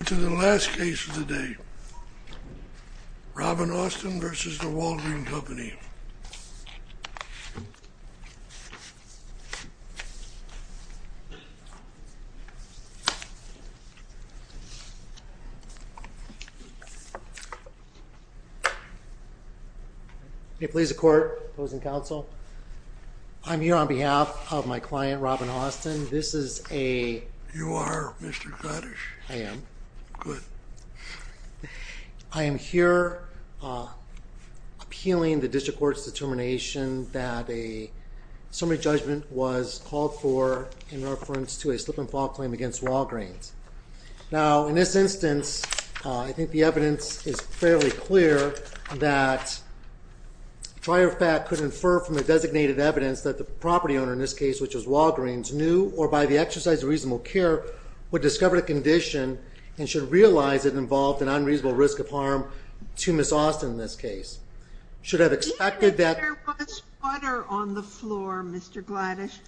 Welcome to the last case of the day. Robin Austin v. The Walgreen Company. May it please the court, opposing counsel. I'm here on behalf of my client Robin Austin. This is a... Good. I am here appealing the district court's determination that a summary judgment was called for in reference to a slip-and-fall claim against Walgreens. Now in this instance, I think the evidence is fairly clear that prior fact could infer from the designated evidence that the property owner in this case, which is Walgreens, knew or by the exercise of reasonable care, would discover the condition and should realize it involved an unreasonable risk of harm to Ms. Austin in this case. Should have expected that... Even if there was water on the floor, Mr. Gladish,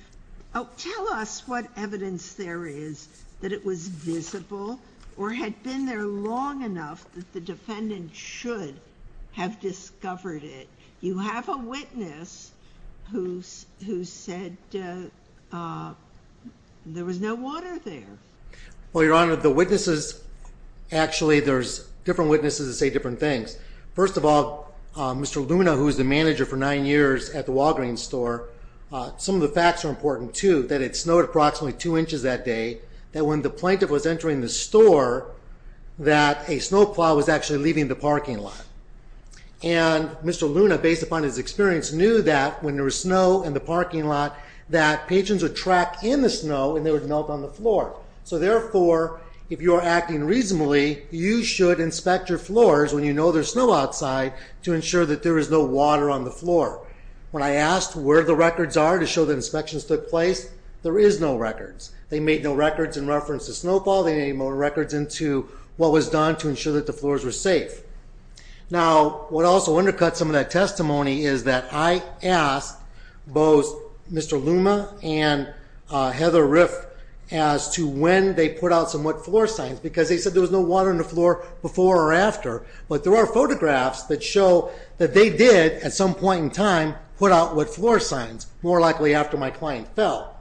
tell us what evidence there is that it was visible or had been there long enough that the defendant should have discovered it. You have a witness who said there was no water there. Well, Your Honor, the witnesses... Actually, there's different witnesses that say different things. First of all, Mr. Luna, who was the manager for nine years at the Walgreens store, some of the facts are important too, that it snowed approximately two inches that day, that when the plaintiff was entering the store, that a snowplow was actually leaving the parking lot. And Mr. Luna, based upon his experience, knew that when there was snow in the parking lot, that patrons would track in the snow and they would melt on the floor. So therefore, if you're acting reasonably, you should inspect your floors when you know there's snow outside to ensure that there is no water on the floor. When I asked where the records are to show that inspections took place, there is no records. They made no records in reference to snowfall. They made no records into what was done to ensure that the floors were safe. Now, what also undercuts some of that testimony is that I asked both Mr. Luna and Heather Riff as to when they put out some wet floor signs, because they said there was no water on the floor before or after. But there are photographs that show that they did, at some point in time, put out wet floor signs, more likely after my client fell.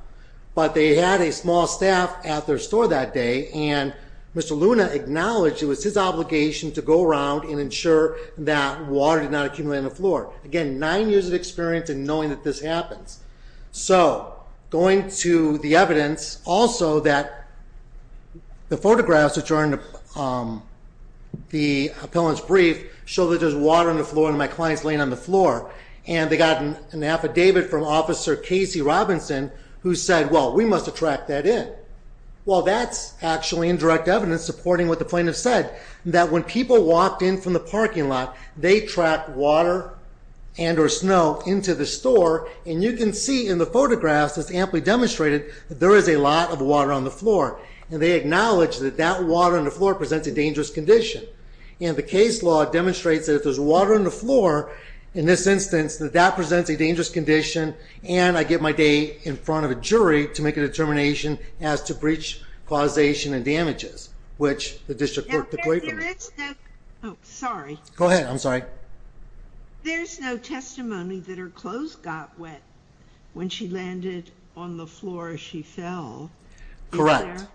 But they had a small staff at their store that day, and Mr. Luna acknowledged it was his obligation to go around and ensure that water did not accumulate on the floor. Again, nine years of experience in knowing that this happens. So, going to the evidence, also that the photographs that are in the appellant's brief show that there's water on the floor and my client's laying on the floor. And they got an affidavit from Officer Casey Robinson who said, well, we must have tracked that in. Well, that's actually indirect evidence supporting what the plaintiff said, that when people walked in from the parking lot, they tracked water and or snow into the store. And you can see in the photographs, it's amply demonstrated that there is a lot of water on the floor. And they acknowledge that that water on the floor presents a dangerous condition. And the case law demonstrates that if there's water on the floor, in this instance, that that presents a dangerous condition. And I get my day in front of a jury to make a determination as to breach, causation, and damages, which the district court declared for me. Oh, sorry. Go ahead. I'm sorry. There's no testimony that her clothes got wet when she landed on the floor as she fell. Correct.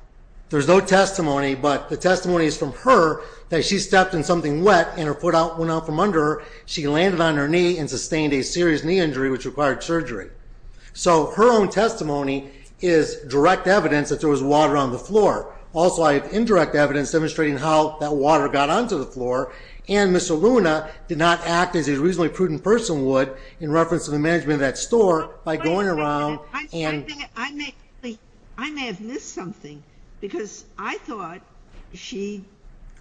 There's no testimony, but the testimony is from her that she stepped in something wet and her foot went out from under her. She landed on her knee and sustained a serious knee injury, which required surgery. So her own testimony is direct evidence that there was water on the floor. Also, I have indirect evidence demonstrating how that water got onto the floor. And Mr. Luna did not act as a reasonably prudent person would in reference to the management of that store by going around and— That's interesting because I thought she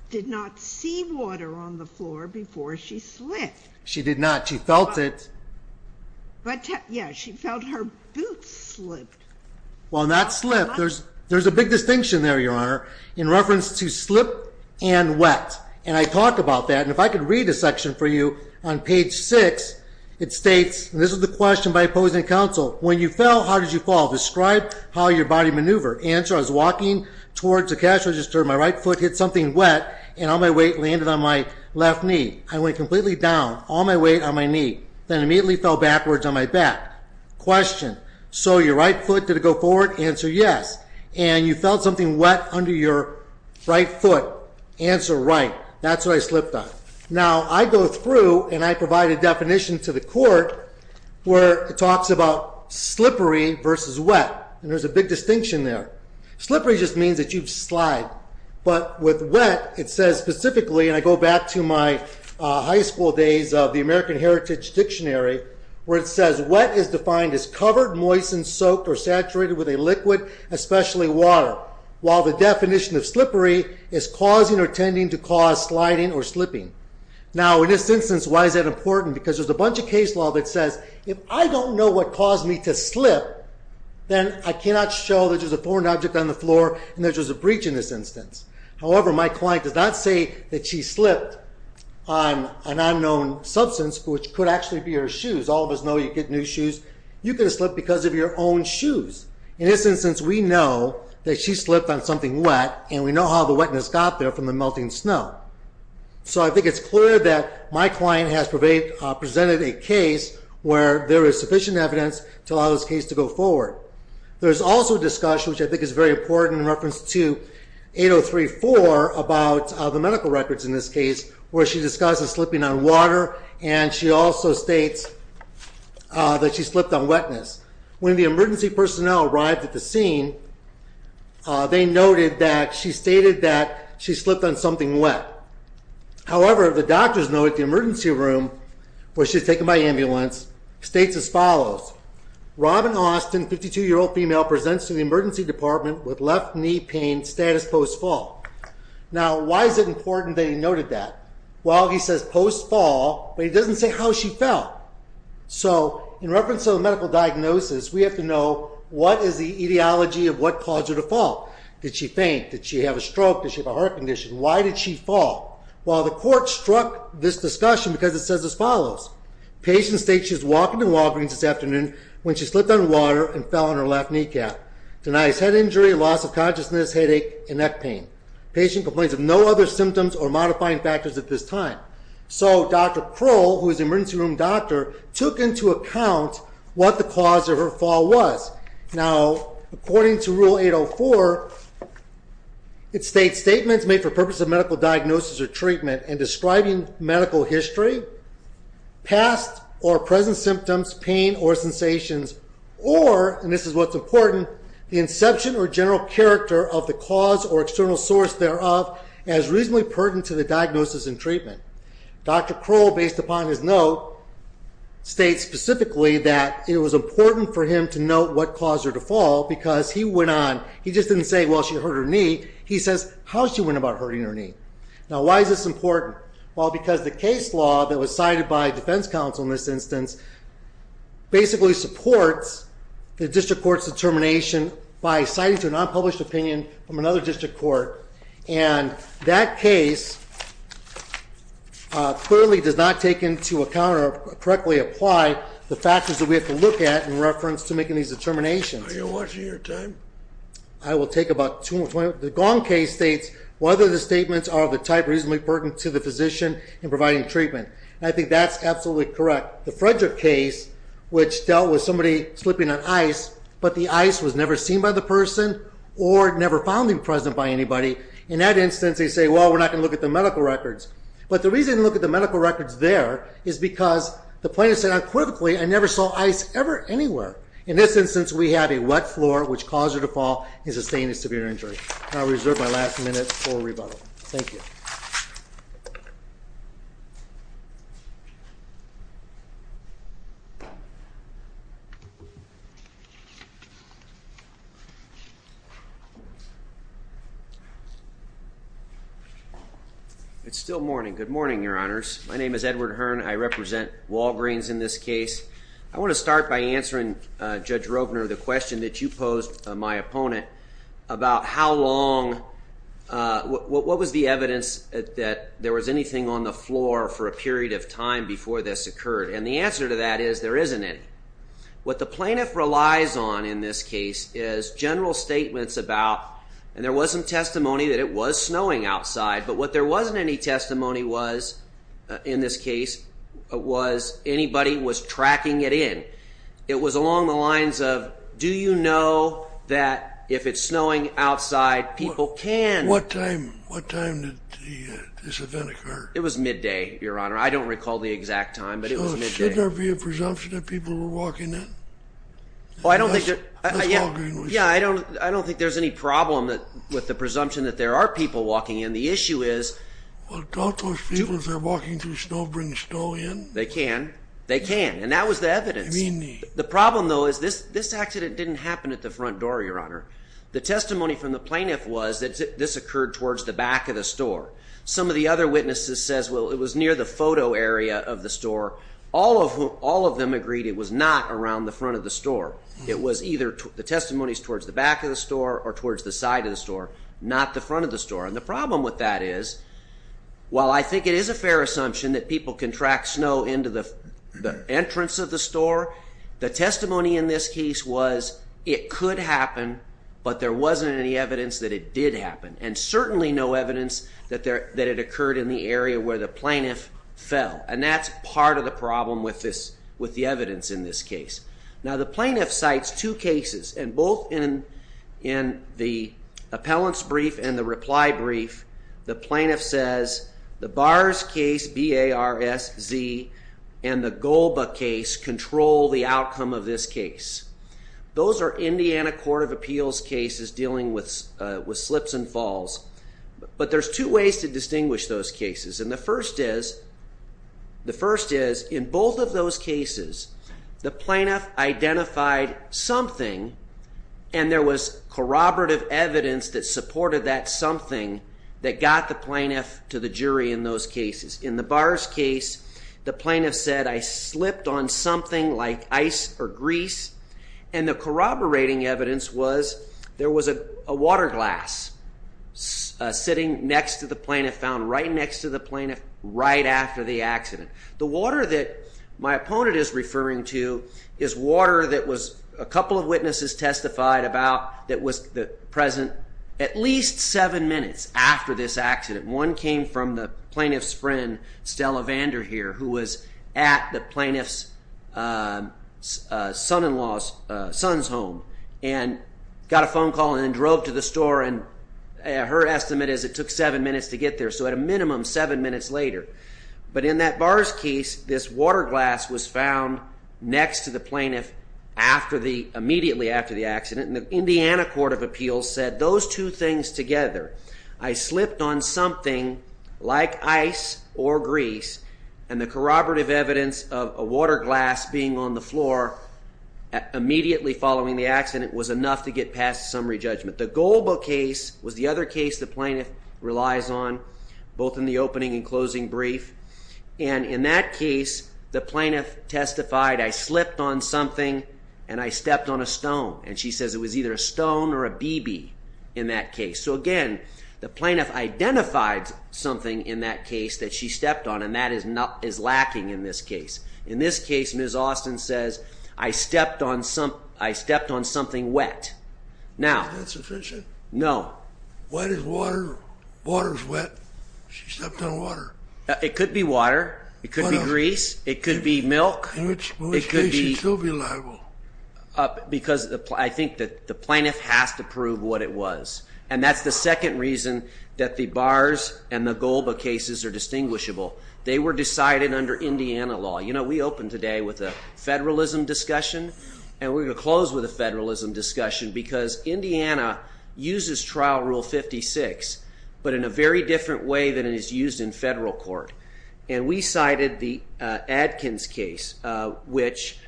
did not see water on the floor before she slipped. She did not. She felt it. But, yeah, she felt her boots slip. Well, not slip. There's a big distinction there, Your Honor, in reference to slip and wet. And I talk about that. And if I could read a section for you on page 6, it states, and this is the question by opposing counsel, When you fell, how did you fall? Describe how your body maneuvered. Answer, I was walking towards the cash register. My right foot hit something wet and all my weight landed on my left knee. I went completely down, all my weight on my knee, then immediately fell backwards on my back. Question, so your right foot, did it go forward? Answer, yes. And you felt something wet under your right foot. Answer, right. That's what I slipped on. Now, I go through and I provide a definition to the court where it talks about slippery versus wet. And there's a big distinction there. Slippery just means that you slide. But with wet, it says specifically, and I go back to my high school days of the American Heritage Dictionary, where it says, wet is defined as covered, moist, and soaked or saturated with a liquid, especially water, while the definition of slippery is causing or tending to cause sliding or slipping. Now, in this instance, why is that important? Because there's a bunch of case law that says, if I don't know what caused me to slip, then I cannot show that there's a foreign object on the floor and there's a breach in this instance. However, my client does not say that she slipped on an unknown substance, which could actually be her shoes. All of us know you get new shoes. You could have slipped because of your own shoes. In this instance, we know that she slipped on something wet, and we know how the wetness got there from the melting snow. So I think it's clear that my client has presented a case where there is sufficient evidence to allow this case to go forward. There's also a discussion, which I think is very important in reference to 8034 about the medical records in this case, where she discusses slipping on water, and she also states that she slipped on wetness. When the emergency personnel arrived at the scene, they noted that she stated that she slipped on something wet. However, the doctors know that the emergency room where she was taken by ambulance states as follows. Robin Austin, 52-year-old female, presents to the emergency department with left knee pain status post-fall. Now, why is it important that he noted that? Well, he says post-fall, but he doesn't say how she felt. So in reference to the medical diagnosis, we have to know what is the etiology of what caused her to fall. Did she faint? Did she have a stroke? Did she have a heart condition? Why did she fall? Well, the court struck this discussion because it says as follows. Patient states she was walking to Walgreens this afternoon when she slipped on water and fell on her left kneecap. Denies head injury, loss of consciousness, headache, and neck pain. Patient complains of no other symptoms or modifying factors at this time. So Dr. Kroll, who is the emergency room doctor, took into account what the cause of her fall was. Now, according to Rule 804, it states statements made for purpose of medical diagnosis or treatment and describing medical history, past or present symptoms, pain or sensations, or, and this is what's important, the inception or general character of the cause or external source thereof as reasonably pertinent to the diagnosis and treatment. Dr. Kroll, based upon his note, states specifically that it was important for him to note what caused her to fall because he went on, he just didn't say, well, she hurt her knee. He says how she went about hurting her knee. Now, why is this important? Well, because the case law that was cited by defense counsel in this instance basically supports the district court's determination by citing to an unpublished opinion from another district court and that case clearly does not take into account or correctly apply the factors that we have to look at in reference to making these determinations. Are you watching your time? I will take about two more points. The Gong case states whether the statements are of the type reasonably pertinent to the physician in providing treatment. I think that's absolutely correct. The Frederick case, which dealt with somebody slipping on ice, but the ice was never seen by the person or never found to be present by anybody. In that instance, they say, well, we're not going to look at the medical records. But the reason to look at the medical records there is because the plaintiff said unquivocally, I never saw ice ever anywhere. In this instance, we have a wet floor, which caused her to fall and sustained a severe injury. And I'll reserve my last minute for rebuttal. Thank you. It's still morning. Good morning, Your Honors. My name is Edward Hearn. I represent Walgreens in this case. I want to start by answering Judge Rovner the question that you posed, my opponent, about how long, what was the evidence that there was anything on the floor for a period of time before this occurred? And the answer to that is there isn't any. What the plaintiff relies on in this case is general statements about, and there was some testimony that it was snowing outside, but what there wasn't any testimony was, in this case, was anybody was tracking it in. It was along the lines of, do you know that if it's snowing outside, people can. What time did this event occur? It was midday, Your Honor. I don't recall the exact time, but it was midday. Shouldn't there be a presumption that people were walking in? Yeah, I don't think there's any problem with the presumption that there are people walking in. The issue is— Well, don't those people, if they're walking through snow, bring snow in? They can. They can, and that was the evidence. The problem, though, is this accident didn't happen at the front door, Your Honor. The testimony from the plaintiff was that this occurred towards the back of the store. Some of the other witnesses says, well, it was near the photo area of the store. All of them agreed it was not around the front of the store. It was either the testimonies towards the back of the store or towards the side of the store, not the front of the store, and the problem with that is, while I think it is a fair assumption that people can track snow into the entrance of the store, the testimony in this case was it could happen, but there wasn't any evidence that it did happen, and certainly no evidence that it occurred in the area where the plaintiff fell, and that's part of the problem with the evidence in this case. Now, the plaintiff cites two cases, and both in the appellant's brief and the reply brief, the plaintiff says the Bars case, B-A-R-S-Z, and the Golba case control the outcome of this case. Those are Indiana Court of Appeals cases dealing with slips and falls, but there's two ways to distinguish those cases, and the first is, in both of those cases, the plaintiff identified something, and there was corroborative evidence that supported that something that got the plaintiff to the jury in those cases. In the Bars case, the plaintiff said, I slipped on something like ice or grease, and the corroborating evidence was there was a water glass sitting next to the plaintiff, found right next to the plaintiff right after the accident. The water that my opponent is referring to is water that a couple of witnesses testified about that was present at least seven minutes after this accident. One came from the plaintiff's friend, Stella Vanderheer, who was at the plaintiff's son-in-law's son's home and got a phone call and drove to the store, and her estimate is it took seven minutes to get there, so at a minimum seven minutes later. But in that Bars case, this water glass was found next to the plaintiff immediately after the accident, and the Indiana Court of Appeals said those two things together. I slipped on something like ice or grease, and the corroborative evidence of a water glass being on the floor immediately following the accident was enough to get past summary judgment. The Golba case was the other case the plaintiff relies on, both in the opening and closing brief, and in that case the plaintiff testified, I slipped on something and I stepped on a stone, and she says it was either a stone or a BB in that case. So again, the plaintiff identified something in that case that she stepped on, and that is lacking in this case. In this case, Ms. Austin says, I stepped on something wet. Is that sufficient? No. What is water? Water is wet. She stepped on water. It could be water. It could be grease. It could be milk. In which case, she'd still be liable. Because I think that the plaintiff has to prove what it was, and that's the second reason that the Bars and the Golba cases are distinguishable. They were decided under Indiana law. You know, we opened today with a federalism discussion, and we're going to close with a federalism discussion because Indiana uses Trial Rule 56, but in a very different way than it is used in federal court, and we cited the Adkins case, which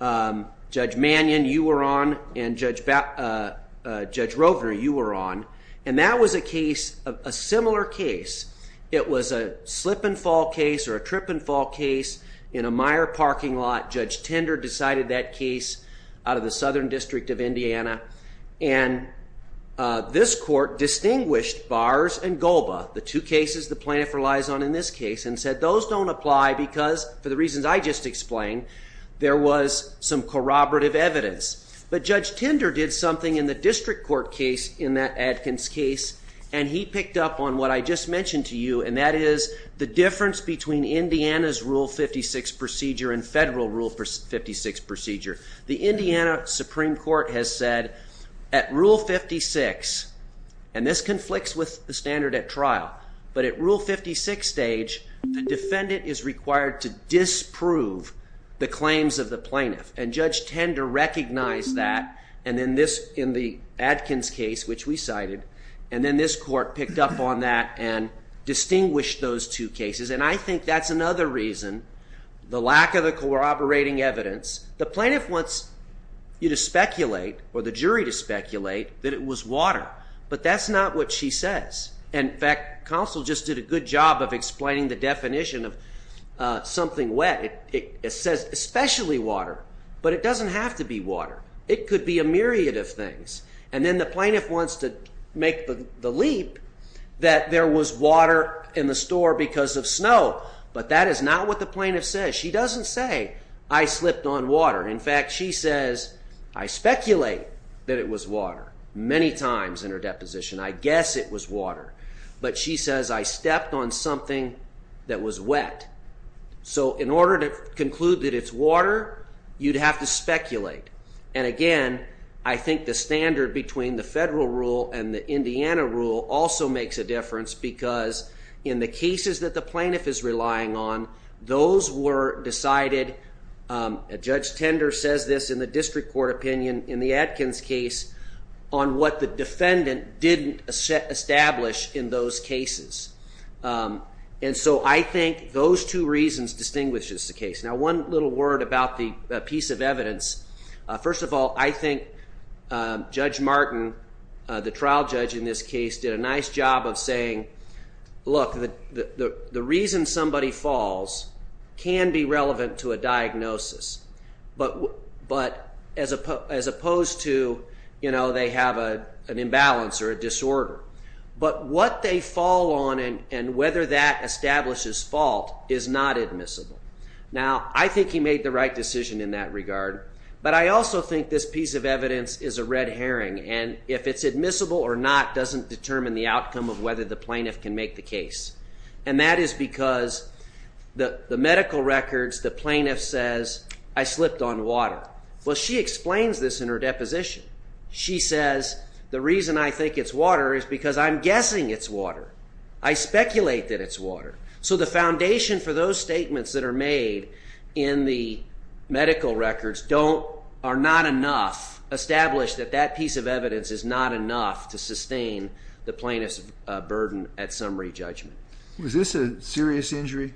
Judge Mannion, you were on, and Judge Rovner, you were on, and that was a similar case. It was a slip-and-fall case or a trip-and-fall case in a Meyer parking lot. Judge Tender decided that case out of the Southern District of Indiana, and this court distinguished Bars and Golba, the two cases the plaintiff relies on in this case, and said those don't apply because, for the reasons I just explained, there was some corroborative evidence. But Judge Tender did something in the district court case in that Adkins case, and he picked up on what I just mentioned to you, and that is the difference between Indiana's Rule 56 procedure and federal Rule 56 procedure. The Indiana Supreme Court has said at Rule 56, and this conflicts with the standard at trial, but at Rule 56 stage, the defendant is required to disprove the claims of the plaintiff, and Judge Tender recognized that in the Adkins case, which we cited, and then this court picked up on that and distinguished those two cases, and I think that's another reason, the lack of the corroborating evidence. The plaintiff wants you to speculate or the jury to speculate that it was water, but that's not what she says. In fact, counsel just did a good job of explaining the definition of something wet. It says especially water, but it doesn't have to be water. It could be a myriad of things, and then the plaintiff wants to make the leap that there was water in the store because of snow, but that is not what the plaintiff says. She doesn't say I slipped on water. In fact, she says I speculate that it was water many times in her deposition. I guess it was water, but she says I stepped on something that was wet. So in order to conclude that it's water, you'd have to speculate, and again, I think the standard between the federal rule and the Indiana rule also makes a difference because in the cases that the plaintiff is relying on, those were decided. Judge Tender says this in the district court opinion in the Atkins case on what the defendant didn't establish in those cases. And so I think those two reasons distinguishes the case. Now one little word about the piece of evidence. First of all, I think Judge Martin, the trial judge in this case, did a nice job of saying, look, the reason somebody falls can be relevant to a diagnosis, but as opposed to they have an imbalance or a disorder. But what they fall on and whether that establishes fault is not admissible. Now I think he made the right decision in that regard, but I also think this piece of evidence is a red herring, and if it's admissible or not doesn't determine the outcome of whether the plaintiff can make the case, and that is because the medical records, the plaintiff says, I slipped on water. Well, she explains this in her deposition. She says, the reason I think it's water is because I'm guessing it's water. I speculate that it's water. So the foundation for those statements that are made in the medical records are not enough, establish that that piece of evidence is not enough to sustain the plaintiff's burden at summary judgment. Was this a serious injury?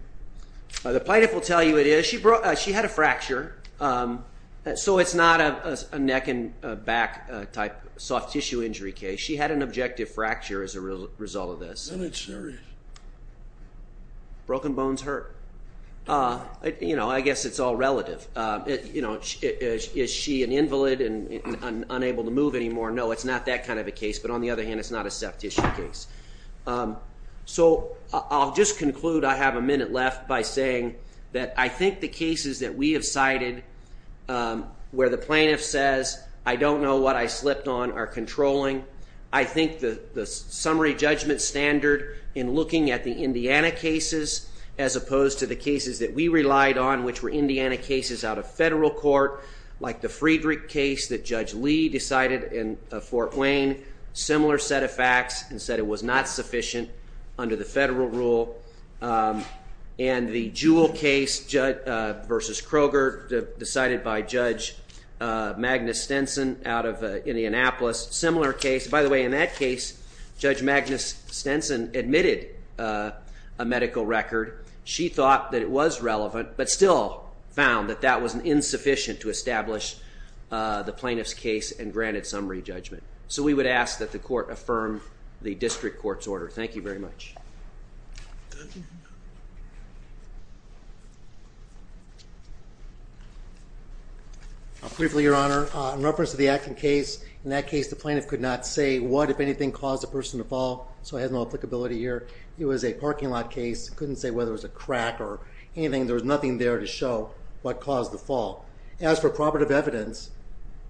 The plaintiff will tell you it is. She had a fracture. So it's not a neck and back type soft tissue injury case. She had an objective fracture as a result of this. Then it's serious. Broken bones hurt. I guess it's all relative. Is she an invalid and unable to move anymore? No, it's not that kind of a case. But on the other hand, it's not a soft tissue case. So I'll just conclude. I have a minute left by saying that I think the cases that we have cited where the plaintiff says, I don't know what I slipped on, are controlling. I think the summary judgment standard in looking at the Indiana cases as opposed to the cases that we relied on, which were Indiana cases out of federal court, like the Friedrich case that Judge Lee decided in Fort Wayne, similar set of facts and said it was not sufficient under the federal rule. And the Jewell case versus Kroger decided by Judge Magnus Stenson out of Indianapolis, similar case. By the way, in that case, Judge Magnus Stenson admitted a medical record. She thought that it was relevant but still found that that was insufficient to establish the plaintiff's case and granted summary judgment. So we would ask that the court affirm the district court's order. Thank you very much. Briefly, Your Honor, in reference to the Atkin case, in that case the plaintiff could not say what, if anything, caused the person to fall, so it has no applicability here. It was a parking lot case, couldn't say whether it was a crack or anything. There was nothing there to show what caused the fall. As for corroborative evidence,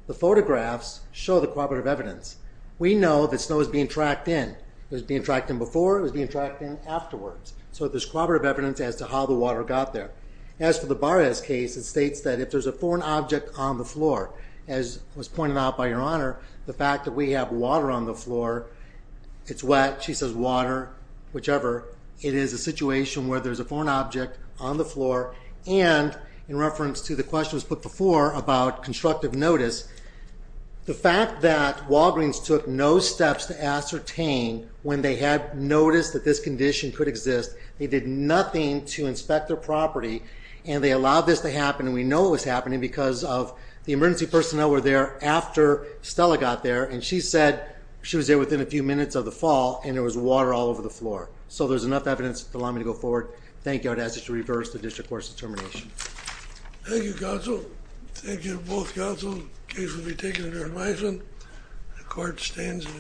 the photographs show the corroborative evidence. We know that snow was being tracked in. It was being tracked in before, it was being tracked in afterwards. So there's corroborative evidence as to how the water got there. As for the Barres case, it states that if there's a foreign object on the floor, as was pointed out by Your Honor, the fact that we have water on the floor, it's wet, she says water, whichever. It is a situation where there's a foreign object on the floor, and in reference to the questions put before about constructive notice, the fact that Walgreens took no steps to ascertain when they had noticed that this condition could exist, they did nothing to inspect their property, and they allowed this to happen, and we know it was happening because the emergency personnel were there after Stella got there, and she said she was there within a few minutes of the fall, and there was water all over the floor. So there's enough evidence to allow me to go forward. Thank you. I would ask that you reverse the district court's determination. Thank you, counsel. Thank you to both counsels. The case will be taken under advisement. The court stands adjourned.